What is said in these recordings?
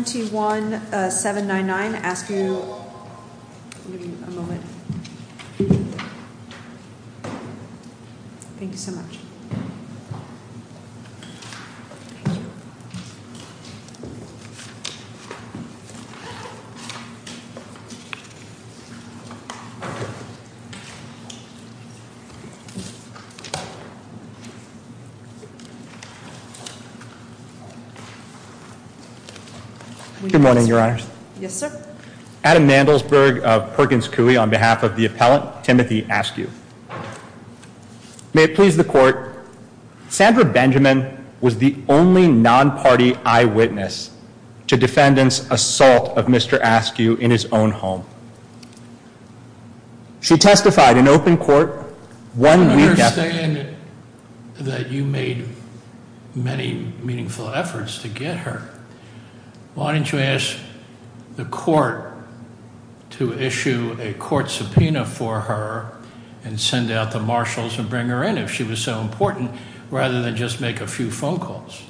until the next meeting nextl meeting, November 27, November 27, 21 7990 November 27, 21 7 9999 Thank you. Good morning, your Adam Mandelsberg of Perkins Coulee on behalf of the appellant. Timothy, ask you. Please. The court. Sandra Benjamin was the only non party eyewitness to defendants. Assault of Mister, ask you in his own home. She testified in court. And you ask. The court. To issue a court subpoena for her and send out the marshals and bring her in. If she was so important rather than just make a few phone calls.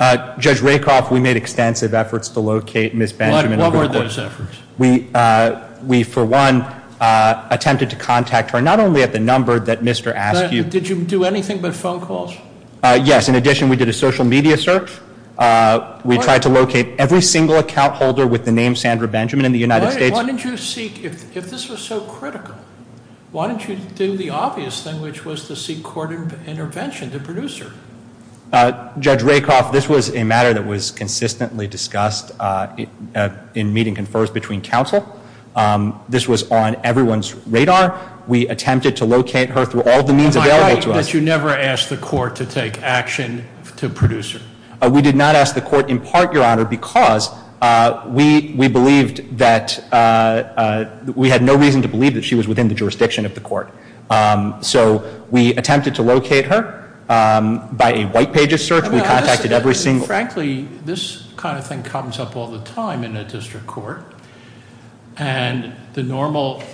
Judge Raycroft. We made extensive efforts to locate Miss Benjamin. What were those efforts? We for one attempted to contact her not only at the number that Mr ask you. Did you do anything but phone calls? Yes. In addition, we did a social media search. We tried to locate every single account holder with the name Sandra Benjamin in the United States. Why did you seek if this was so critical? Why didn't you do the obvious thing, which was to seek court intervention to producer? Judge Raycroft. This was a matter that was consistently discussed in meeting confers between council. This was on everyone's radar. We attempted to locate her through all the means available to us. You never asked the court to take action to producer. We did not ask the court in part, your honor, because we we believed that we had no reason to believe that she was within the jurisdiction of the court. So we attempted to locate her by a white pages search. We contacted every single frankly, this kind of thing comes up all the time in a district court. And the normal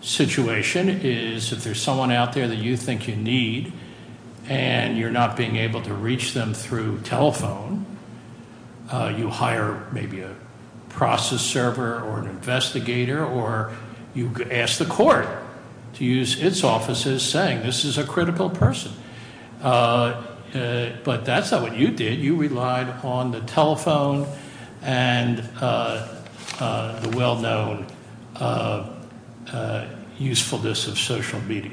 situation is if there's someone out there that you think you need and you're not being able to reach them through telephone, uh, you hire maybe a process server or an investigator, or you ask the court to use its offices saying this is a critical person. Uh, but that's not what you did. You relied on the telephone and, uh, uh, the well known, uh, usefulness of social media.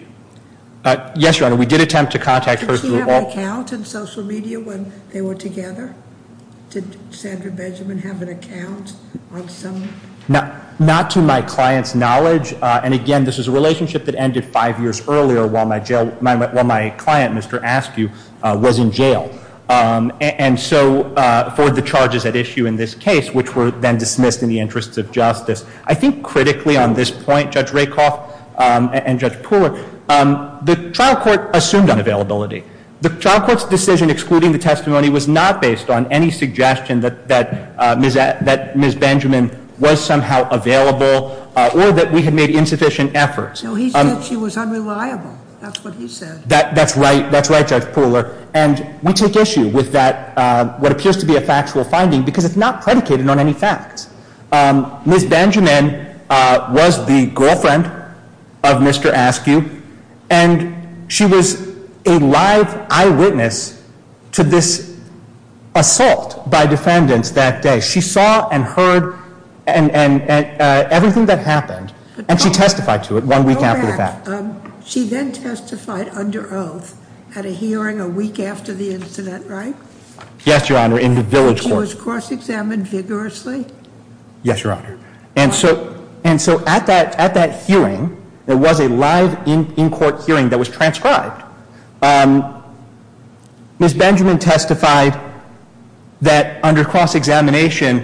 Uh, yes, your honor, we did attempt to contact her through the wall. Did she have an account in social media when they were together? Did Sandra Benjamin have an account on some? Not, not to my client's knowledge. Uh, and again, this is a relationship that ended five years earlier while my jail, my, while my client, Mr. Askew, uh, was in jail. Um, and so, uh, for the charges at issue in this case, which were then dismissed in the interests of justice, I think critically on this point, Judge Rakoff, um, and Judge Pooler, um, the trial court assumed unavailability. The trial court's decision excluding the testimony was not based on any suggestion that, that, uh, that Ms. Benjamin was somehow available, uh, or that we had made insufficient efforts. No, he said she was unreliable. That's what he said. That, that's right. That's right, Judge Pooler. And we take issue with that, uh, what appears to be a factual finding because it's not predicated on any facts. Um, Ms. Benjamin, uh, was the girlfriend of Mr. Askew, and she was a live eyewitness to this assault by defendants that day. She saw and heard and, and, and, uh, everything that happened, and she testified to it one week after the fact. Go back. Um, she then testified under oath at a hearing a week after the incident, right? Yes, Your Honor, in the village court. And she was cross-examined vigorously? Yes, Your Honor. And so, and so at that, at that hearing, there was a live in, in-court hearing that was transcribed. Um, Ms. Benjamin testified that under cross-examination,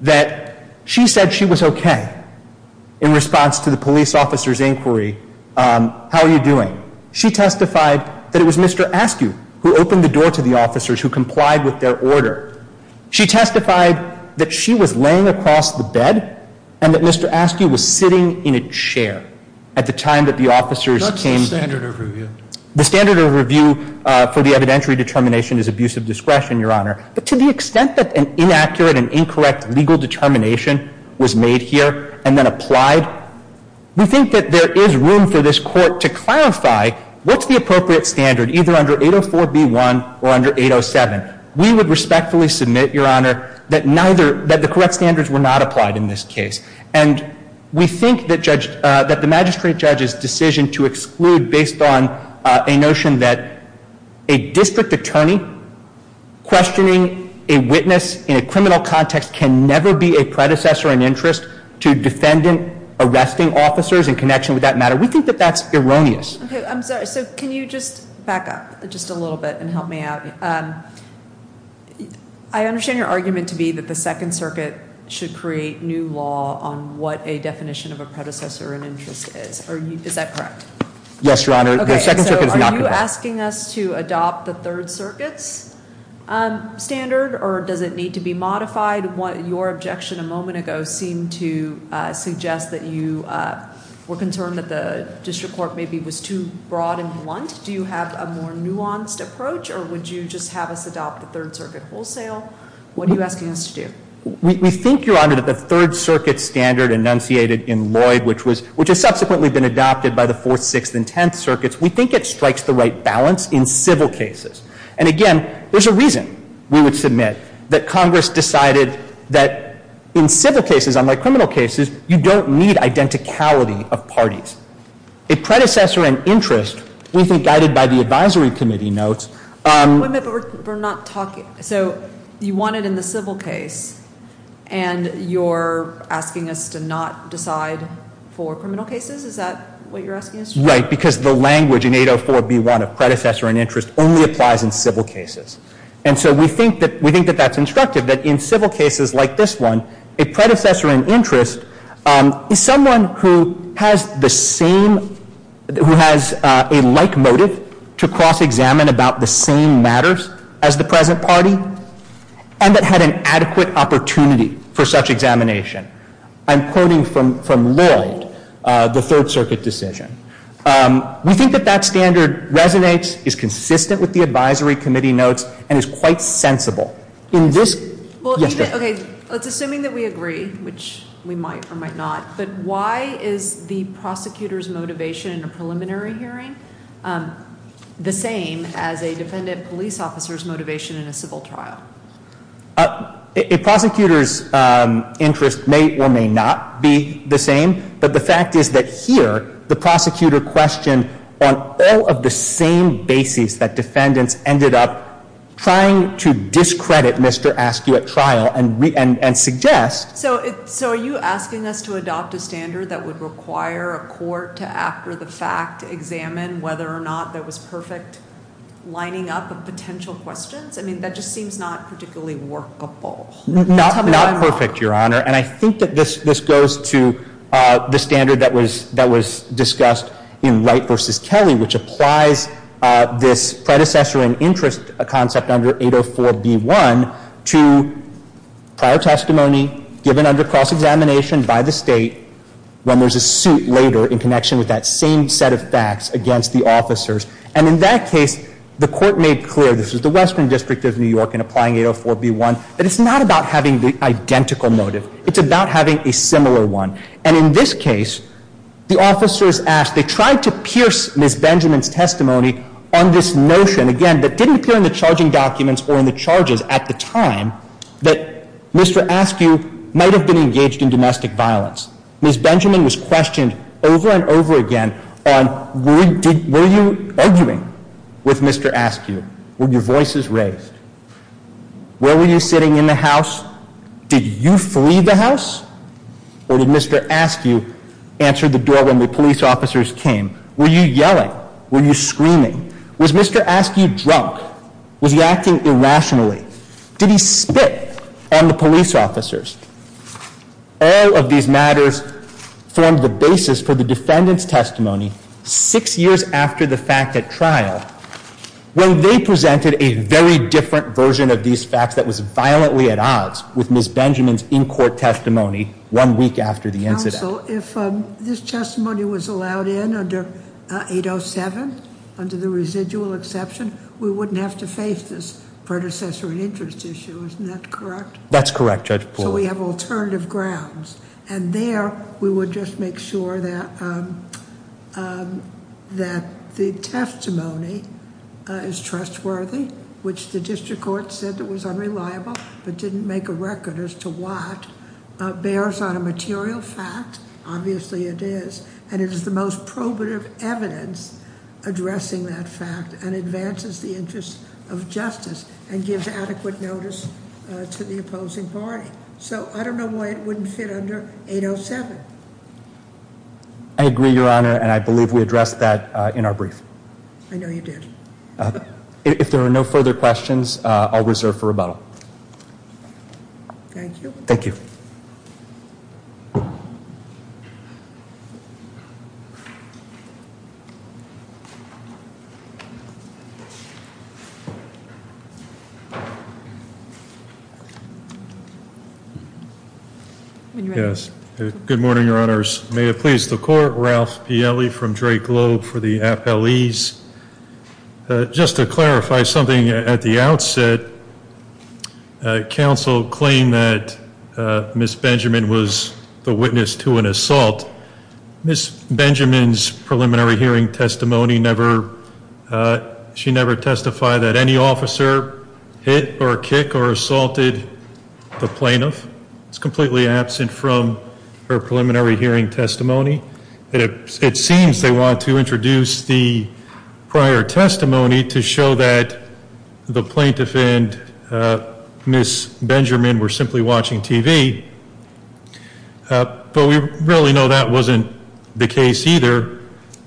that she said she was okay in response to the police officer's inquiry, um, how are you doing? She testified that it was Mr. Askew who opened the door to the officers who complied with their order. She testified that she was laying across the bed and that Mr. Askew was sitting in a chair at the time that the officers came. What's the standard of review? The standard of review, uh, for the evidentiary determination is abusive discretion, Your Honor. But to the extent that an inaccurate and incorrect legal determination was made here and then applied, we think that there is room for this court to clarify what's the appropriate standard, either under 804B1 or under 807. We would respectfully submit, Your Honor, that neither, that the correct standards were not applied in this case. And we think that judge, uh, that the magistrate judge's decision to exclude based on, uh, a notion that a district attorney questioning a witness in a criminal context can never be a predecessor in interest to defendant arresting officers in connection with that matter. We think that that's erroneous. Okay, I'm sorry. So can you just back up just a little bit and help me out? Um, I understand your argument to be that the Second Circuit should create new law on what a definition of a predecessor in interest is. Are you, is that correct? Yes, Your Honor. Okay, so are you asking us to adopt the Third Circuit's, um, standard or does it need to be modified? What your objection a moment ago seemed to, uh, suggest that you, uh, were concerned that the district court maybe was too broad and blunt. Do you have a more nuanced approach or would you just have us adopt the Third Circuit wholesale? What are you asking us to do? We, we think, Your Honor, that the Third Circuit standard enunciated in Lloyd, which was, which has subsequently been adopted by the Fourth, Sixth, and Tenth Circuits, we think it strikes the right balance in civil cases. And again, there's a reason we would submit that Congress decided that in civil cases, unlike criminal cases, you don't need identicality of parties. A predecessor in interest, we think guided by the advisory committee notes, um... Wait a minute, but we're not talking. So you want it in the civil case and you're asking us to not decide for criminal cases? Is that what you're asking us to do? Right, because the language in 804b1 of predecessor in interest only applies in civil cases. And so we think that, we think that that's instructive, that in civil cases like this one, a predecessor in interest, um, is someone who has the same, who has, uh, a like motive to cross-examine about the same matters as the present party and someone that had an adequate opportunity for such examination. I'm quoting from Lloyd, uh, the Third Circuit decision. Um, we think that that standard resonates, is consistent with the advisory committee notes, and is quite sensible. In this... Well, even, okay, let's assume that we agree, which we might or might not, but why is the prosecutor's motivation in a preliminary hearing, um, the same as a defendant police officer's motivation in a civil trial? Uh, a prosecutor's, um, interest may or may not be the same, but the fact is that here the prosecutor questioned on all of the same basis that defendants ended up trying to discredit Mr. Askew at trial and re- and suggest... So, so are you asking us to adopt a standard that would require a court to, after the fact, examine whether or not there was perfect lining up of potential questions? I mean, that just seems not particularly workable. Not, not perfect, Your Honor, and I think that this, this goes to, uh, the standard that was, that was discussed in Wright v. Kelly, which applies, uh, this predecessor in interest concept under 804B1 to prior testimony given under cross examination by the state when there's a suit later in connection with that same set of facts against the officers. And in that case, the court made clear, this is the Western District of New York in applying 804B1, that it's not about having the identical motive. It's about having a similar one. And in this case, the officers asked, they tried to pierce Ms. Benjamin's testimony on this notion, again, that didn't appear in the charging documents or in the charges at the time that Mr. Askew might have been engaged in domestic violence. Ms. Benjamin was questioned over and over again on were you, were you raised? Where were you sitting in the house? Did you flee the house? Or did Mr. Askew answer the door when the police officers came? Were you yelling? Were you screaming? Was Mr. Askew drunk? Was he acting irrationally? Did he spit on the police officers? All of these matters formed the basis for the defendant's testimony six years after the fact at trial. When they presented a very different version of these facts that was violently at odds with Ms. Benjamin's in-court testimony one week after the incident. Counsel, if this testimony was allowed in under 807, under the residual exception, we wouldn't have to face this predecessor and interest issue, isn't that correct? That's correct, Judge Poole. So we have alternative grounds. And there, we would just make sure that the testimony of Ms. Benjamin is trustworthy, which the district court said was unreliable, but didn't make a record as to what, bears on a material fact, obviously it is, and it is the most probative evidence addressing that fact and advances the interest of justice and gives adequate notice to the opposing party. So I don't know why it wouldn't fit under 807. I agree, Your Honor, and I believe we addressed that in our brief. I have no further questions. If there are no further questions, I'll reserve for rebuttal. Thank you. Thank you. Good morning, Your Honors. May it please the court, Ralph Piele from Drake Globe for the District Court. I just want to clarify something at the outset. Council claim that Miss Benjamin was the witness to an assault. Miss Benjamin's preliminary hearing testimony never. She never testified that any officer hit or kick or assaulted the plaintiff. It's completely absent from her prior testimony to show that the plaintiff and Miss Benjamin were simply watching TV. But we really know that wasn't the case either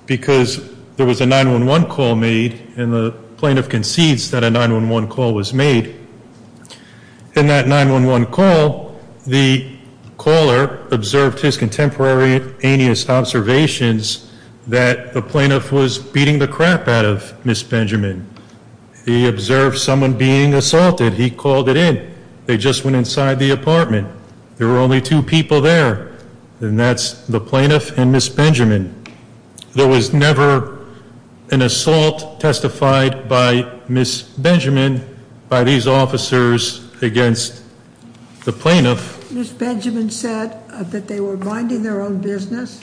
because there was a 911 call made and the plaintiff concedes that a 911 call was made. In that 911 call, the caller observed his contemporary aneous observations that the plaintiff was beating the crap out of Miss Benjamin. He observed someone being assaulted. He called it in. They just went inside the apartment. There were only two people there, and that's the plaintiff and Miss Benjamin. There was never an assault testified by Miss Benjamin by these officers against the plaintiff. Miss Benjamin said that they were minding their own business,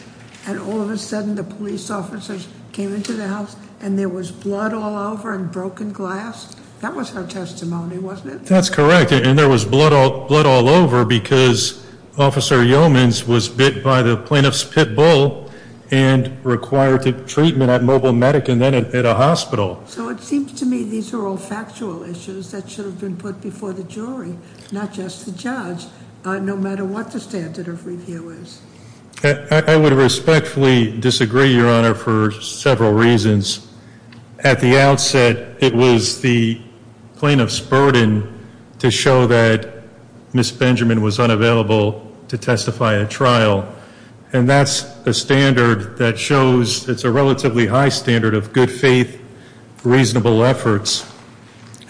and all of a sudden the police officers came into the house and there was blood all over and broken glass. That was her testimony, wasn't it? That's correct, and there was blood all over because Officer Yeomans was bit by the plaintiff's pit bull and required treatment at Mobile Medicine and then at a hospital. So it seems to me these are all factual issues that should have been put before the jury, not just the judge, no matter what the standard of review is. I would respectfully disagree, Your Honor, for several reasons. At the outset, it was the plaintiff's burden to show that Miss Benjamin was unavailable to testify at trial, and that's a standard that shows it's a relatively high standard of good faith, reasonable efforts.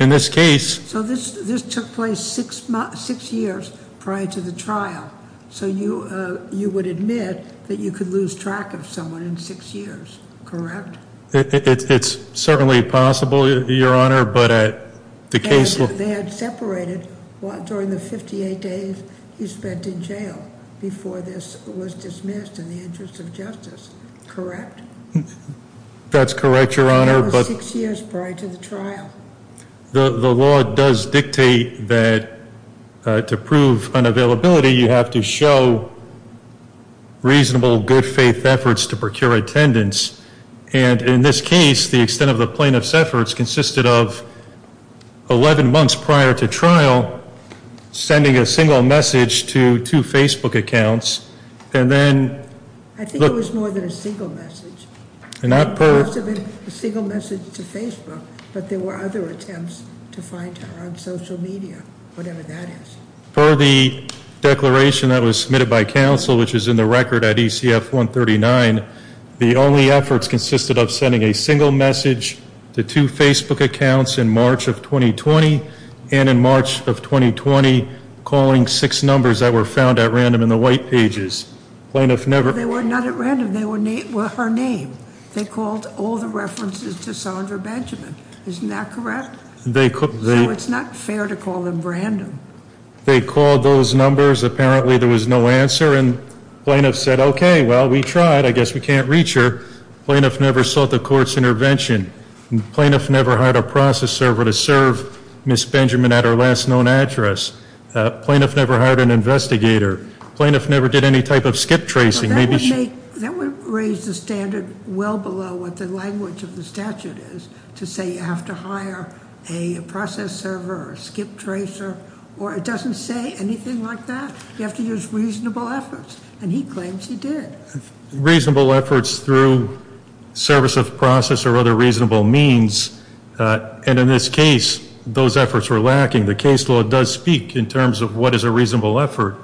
In this case... So this took place six years prior to the trial. So you would admit that you could lose track of someone in six years, correct? It's certainly possible, Your Honor, but at the case... And they had separated during the 58 days you spent in jail before this was dismissed in the interest of justice, correct? That's correct, Your Honor, but... And that was six years prior to the trial. The law does dictate that to prove unavailability, you have to show reasonable good faith efforts to procure attendance, and in this case, the extent of the plaintiff's efforts consisted of 11 months prior to trial sending a single message to two Facebook accounts, and then... I think it was more than a single message. And not per... It must have been a single message to Facebook, but there were other attempts to find her on social media, whatever that is. For the declaration that was submitted by counsel, which is in the record at ECF 139, the only efforts consisted of sending a single message to two Facebook accounts in March of 2020, and in March of 2020 calling six numbers that were found at random in the white pages. Plaintiff never... Well, they were not at random. They were her name. They called all the references to Sandra Benjamin. Isn't that correct? They... So it's not fair to They called those numbers. Apparently there was no answer, and plaintiff said, okay, well, we tried. I guess we can't reach her. Plaintiff never sought the court's intervention. Plaintiff never hired a process server to serve Ms. Benjamin at her last known address. Plaintiff never hired an investigator. Plaintiff never did any type of skip tracing. Maybe she... That would make... That would raise the standard well below what the language of the statute is to say you have to hire a process server or skip tracer or it doesn't say anything like that. You have to use reasonable efforts, and he claims he did. Reasonable efforts through service of process or other reasonable means, and in this case, those efforts were lacking. The case law does speak in terms of what is a reasonable effort.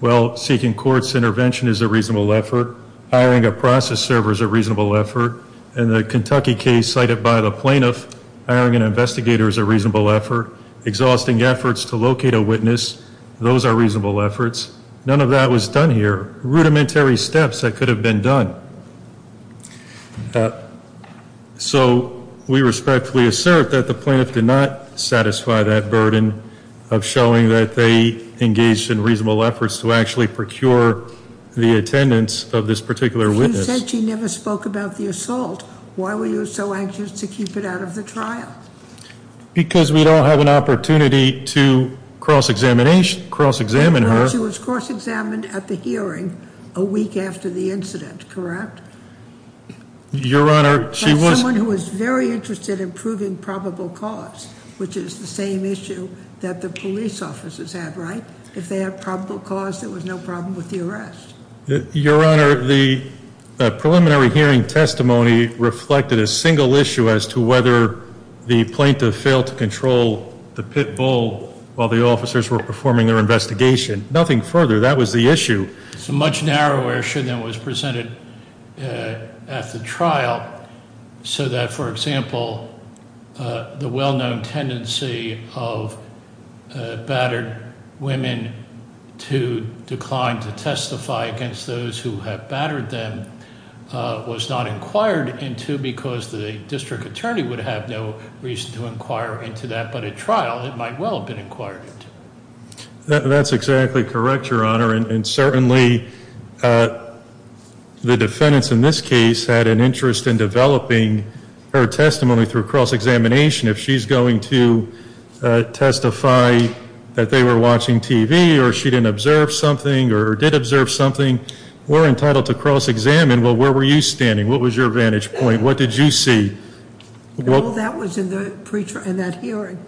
Well, seeking court's intervention is a reasonable effort. Hiring a process server is a reasonable effort. In the Kentucky case cited by the plaintiff, hiring an investigator is a reasonable effort. Exhausting efforts to locate a witness, those are reasonable efforts. None of that was done here. Rudimentary steps that could have been done. So we respectfully assert that the plaintiff did not satisfy that burden of showing that they engaged in reasonable efforts to actually procure the attendance of this particular witness. You said she never spoke about the assault. Why were you so anxious to keep it out of the trial? Because we don't have an opportunity to cross-examine her. She was cross-examined at the hearing a week after the incident, correct? Your Honor, she was... Someone who was very interested in proving probable cause, which is the same issue that the police officers had, right? If they had probable cause, there was no problem with the arrest. Your Honor, the preliminary hearing testimony reflected a single issue as to whether the officers were performing their investigation. Nothing further. That was the issue. It's a much narrower issue than was presented at the trial, so that, for example, the well- known tendency of battered women to decline to testify against those who have battered them was not inquired into because the district attorney would have no reason to inquire into that. But if it was presented at trial, it might well have been inquired into. That's exactly correct, Your Honor. And certainly the defendants in this case had an interest in developing her testimony through cross- examination. If she's going to testify that they were watching TV or she didn't observe something or did observe something, we're entitled to cross-examine. Well, where were you standing? What was your vantage point? What did you see? All that was in that hearing.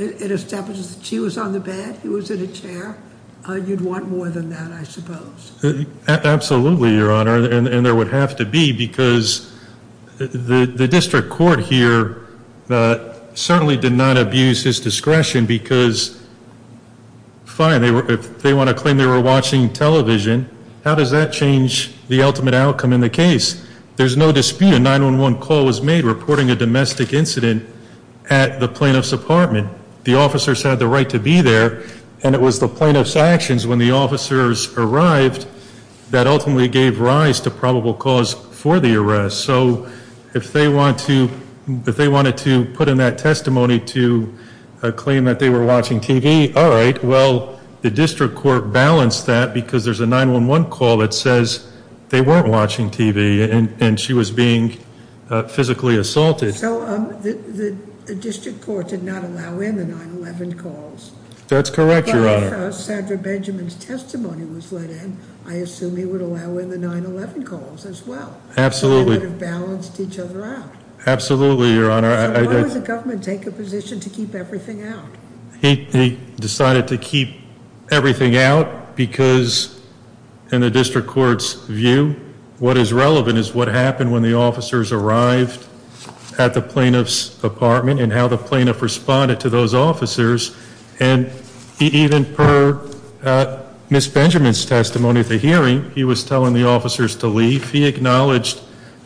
It establishes that she was on the bed, he was in a chair. You'd want more than that, I suppose. Absolutely, Your Honor. And there would have to be because the district court here certainly did not abuse his discretion because, fine, if they want to claim they were watching television, how does that change the ultimate outcome in the case? There's no dispute. A 9-1-1 call was made reporting a domestic incident at the plaintiff's apartment. The officers had the right to be there and it was the plaintiff's actions when the officers arrived that ultimately gave rise to probable cause for the arrest. So if they wanted to put in that testimony to claim that they were watching TV, all right, well, the district court balanced that because there's a 9-1-1 call that says they weren't watching TV and she was being physically assaulted. So the district court did not allow in the 9-1-1 calls? That's correct, Your Honor. Well, if Sandra Benjamin's testimony was let in, I assume he would allow in the 9-1-1 calls as well. Absolutely. So they would have balanced each other out. Absolutely, Your Honor. Why would the government take a position to keep everything out? He decided to keep everything out because, in the district court's view, what is relevant is what happened when the officers arrived at the plaintiff's apartment and how the plaintiff responded to those officers. And even per Ms. Benjamin's testimony at the hearing, he was telling the officers to leave. He acknowledged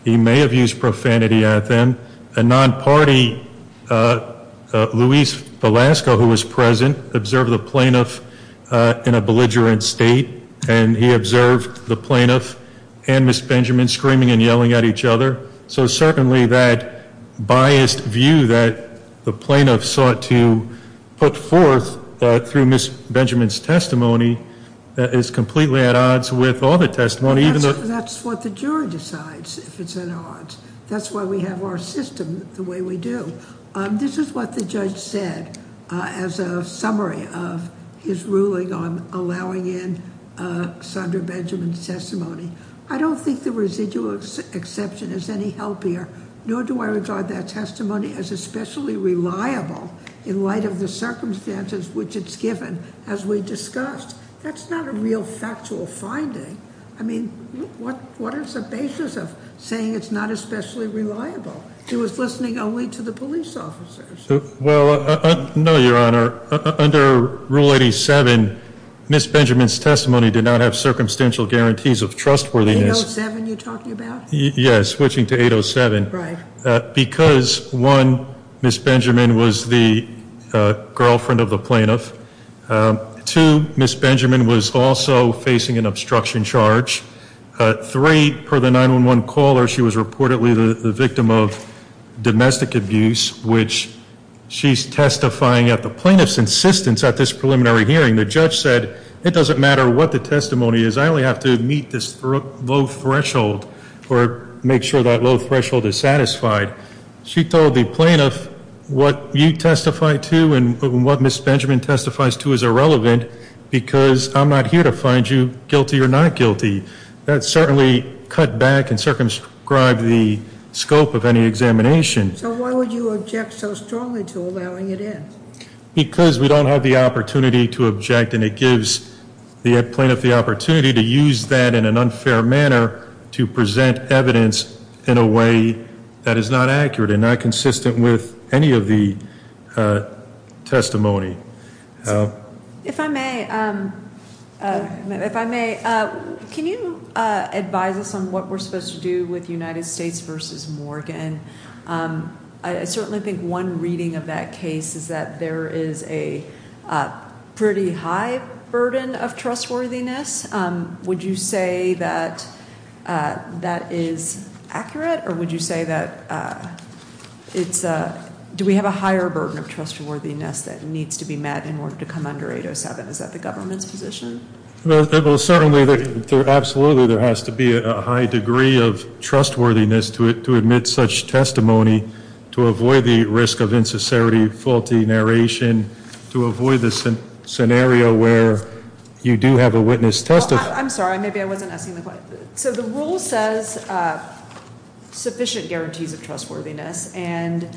he may have used profanity at them. A non-party, Luis Velasco, who was present, observed the plaintiff in a belligerent state and he observed the plaintiff and Ms. Benjamin, who was present, observing and yelling at each other. So certainly that biased view that the plaintiff sought to put forth through Ms. Benjamin's testimony is completely at odds with all the testimony. That's what the jury decides if it's at odds. That's why we have our system the way we do. This is what the judge said as a summary of his ruling on Ms. Benjamin's testimony. I don't think the residual exception is any healthier, nor do I regard that testimony as especially reliable in light of the circumstances which it's given as we discussed. That's not a real factual finding. I mean, what is the basis of saying it's not especially reliable? He was listening only to the police officers. Well, no, Your Honor. Under Rule 87, Ms. Benjamin's testimony did not have circumstantial guarantees of trustworthiness. 807 you're talking about? Yes, switching to 807. Right. Because, one, Ms. Benjamin was the girlfriend of the plaintiff. Two, Ms. Benjamin was also facing an obstruction charge. Three, per the 911 caller, she was reportedly the victim of domestic abuse, which she's testifying at. The plaintiff's insistence at this preliminary hearing, the judge said, it doesn't matter what the testimony is. I only have to meet this low threshold or make sure that low threshold is satisfied. She told the plaintiff, what you testify to and what Ms. Benjamin testifies to is irrelevant because I'm not here to find you guilty or not guilty. That certainly cut back and circumscribed the scope of any examination. So why would you object so strongly to allowing it in? Because we don't have the opportunity to object and it gives the plaintiff the opportunity to use that in an unfair manner to present evidence in a way that is not accurate and not consistent with any of the testimony. advise us on what we're supposed to do with United I certainly think one reading of that case is that there is a pretty high burden of trustworthiness. Would you say that that is accurate? Or would you say that it's do we have a higher burden of trustworthiness that needs to be met in order to come under 807? Is that the government's position? Certainly. Absolutely. There has to be a high degree of trustworthiness to admit such testimony to avoid the risk of insincerity, faulty narration, to avoid the scenario where you do have a witness testify. I'm sorry. Maybe I wasn't asking the question. So the rule says sufficient guarantees of trustworthiness and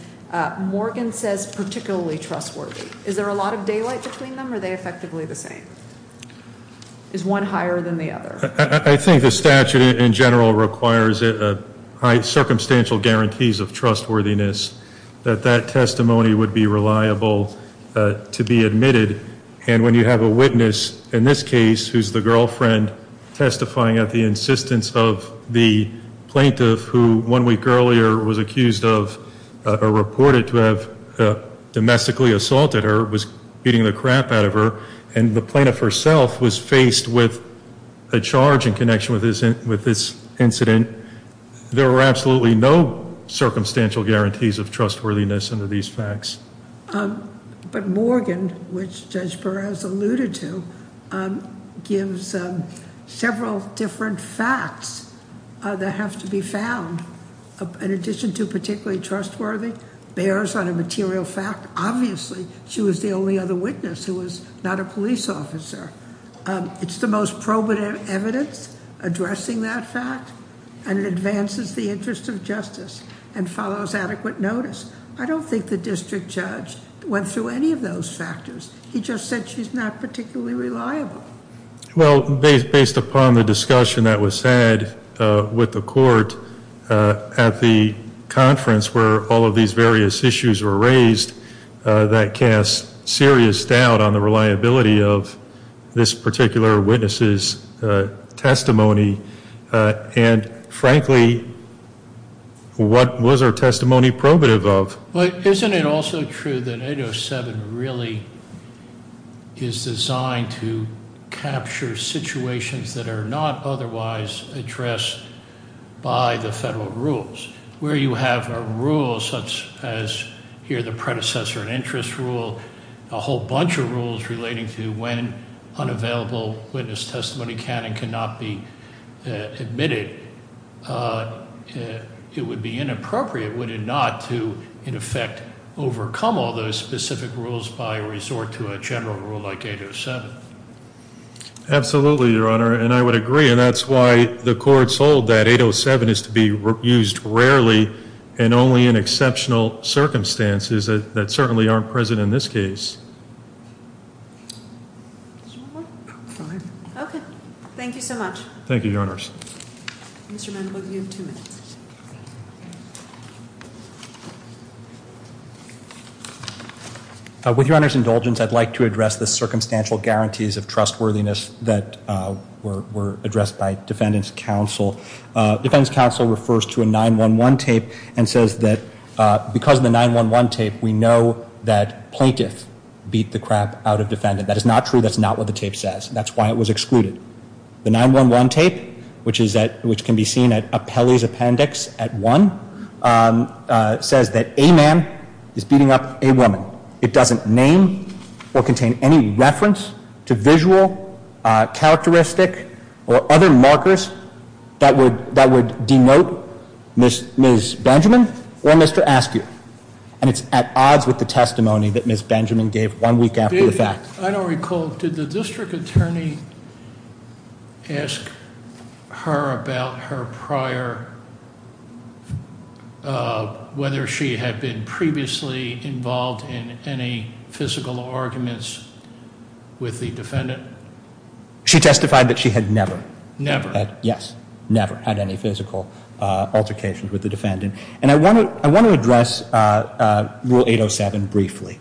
Morgan says particularly trustworthy. Is there a lot of daylight between them or are they effectively the same? Is one higher than the other? I think the statute in general requires a high circumstantial guarantees of trustworthiness that that testimony would be reliable to be admitted and when you have a witness in this case who is the girlfriend testifying at the insistence of the plaintiff who one week earlier was accused of or reported to have domestically assaulted her, was beating the crap out of her and the plaintiff herself was faced with a charge in this case of domestic assault. In this incident, there were absolutely no circumstantial guarantees of trustworthiness under these facts. But Morgan, which Judge Perez alluded to, gives several different facts that have to be found in addition to particularly trustworthy, bears on a material fact, obviously she was the only other witness who was not a police officer. It's the most probative evidence addressing that fact and it advances the interest of justice and follows adequate notice. I don't think the district judge went through any of those factors. He just said she's not particularly reliable. Well, based upon the discussion that was said with the court at the conference where all of these various issues were raised that cast serious doubt on the testimony of this particular witness' testimony. And frankly, what was her testimony probative of? Isn't it also true that 807 really is designed to capture situations that are not otherwise addressed by the federal rules? Where you have a rule such as here the predecessor interest rule, a whole bunch of rules relating to when unavailable witness testimony can and cannot be admitted, it would be inappropriate, would it not, to in effect overcome all those specific rules by resort to a general rule like 807? Absolutely, Your Honor, and I would agree. And that's why the courts hold that 807 is to be used rarely and only in exceptional circumstances that certainly aren't present in this case. Thank you so much. Thank you, Your Honors. Mr. Mendel, you have two minutes. With Your Honor's indulgence, I'd like to address the circumstantial guarantees of trustworthiness that were addressed by Defendant's Counsel. Defendant's Counsel refers to a 911 tape and says that because of the 911 tape, we have beat the crap out of Defendant. That is not true. That's not what the tape says. That's why it was excluded. The 911 tape, which can be seen at Appellee's Appendix at 1, says that a man is beating up a woman. It doesn't name or contain any reference to visual characteristic or other markers that would denote Ms. Benjamin or Mr. Askew. And it's at odds with the testimony that Ms. Benjamin gave one week after the fact. I don't recall. Did the District Attorney ask her about her prior, whether she had been previously involved in any physical arguments with the Defendant? She testified that she had never. Never? Yes, never had any physical altercations with the Defendant. And I want to address Rule 807 briefly.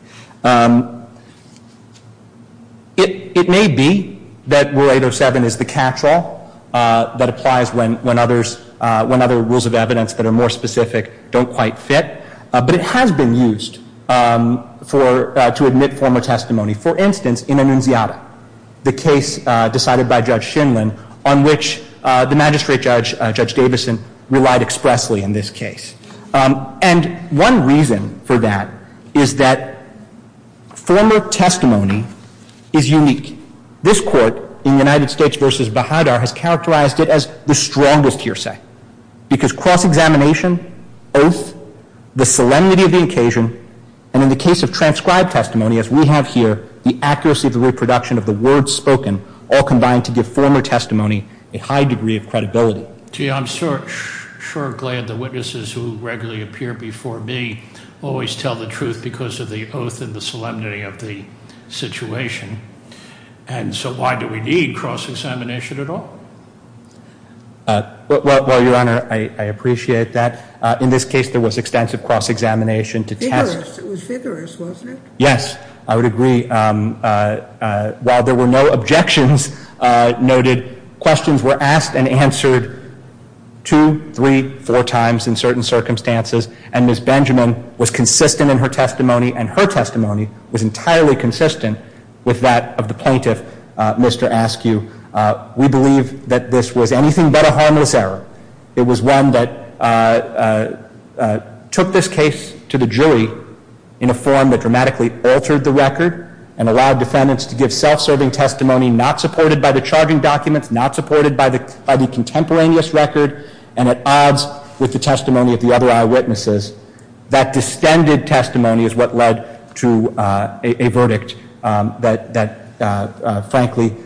It may be that Rule 807 is the catch-all that applies when other rules of evidence that are more specific don't quite fit, but it has been used to admit former testimony. For instance, in Annunziata, the case decided by Judge Shinlin on which the Magistrate Judge, Judge Davison, relied expressly in this case. And one reason for that is that former testimony is unique. This Court in United States v. Bahadur has characterized it as the strongest hearsay, because cross-examination, oath, the solemnity of the occasion, and in the case of transcribed testimony, as we have here, the accuracy of the reproduction of the words spoken all combine to give former testimony a high degree of credibility. Gee, I'm sure glad the witnesses who regularly appear before me always tell the truth because of the oath and the solemnity of the situation. And so why do we need cross-examination at all? Well, Your Honor, I appreciate that. In this case, there was extensive cross-examination to test. It was vigorous, wasn't it? Yes, I would agree. While there were no objections noted, questions were asked and answered two, three, four times in certain circumstances, and Ms. Benjamin was consistent in her testimony, and her testimony was entirely consistent with that of the plaintiff. Mr. Askew, we believe that this was anything but a harmless error. It was one that took this case to the jury in a form that dramatically altered the record and allowed defendants to give self-serving testimony not supported by the charging documents, not supported by the contemporaneous record, and at the same time, the testimony of the other eyewitnesses, that distended testimony is what led to a verdict that, frankly,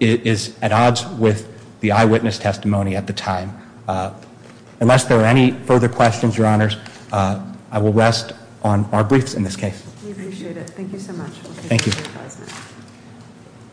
is at odds with the eyewitness testimony at the time. Unless there are any further questions, Your Honors, I will rest on our briefs in this case. We appreciate it. Thank you so much. Thank you.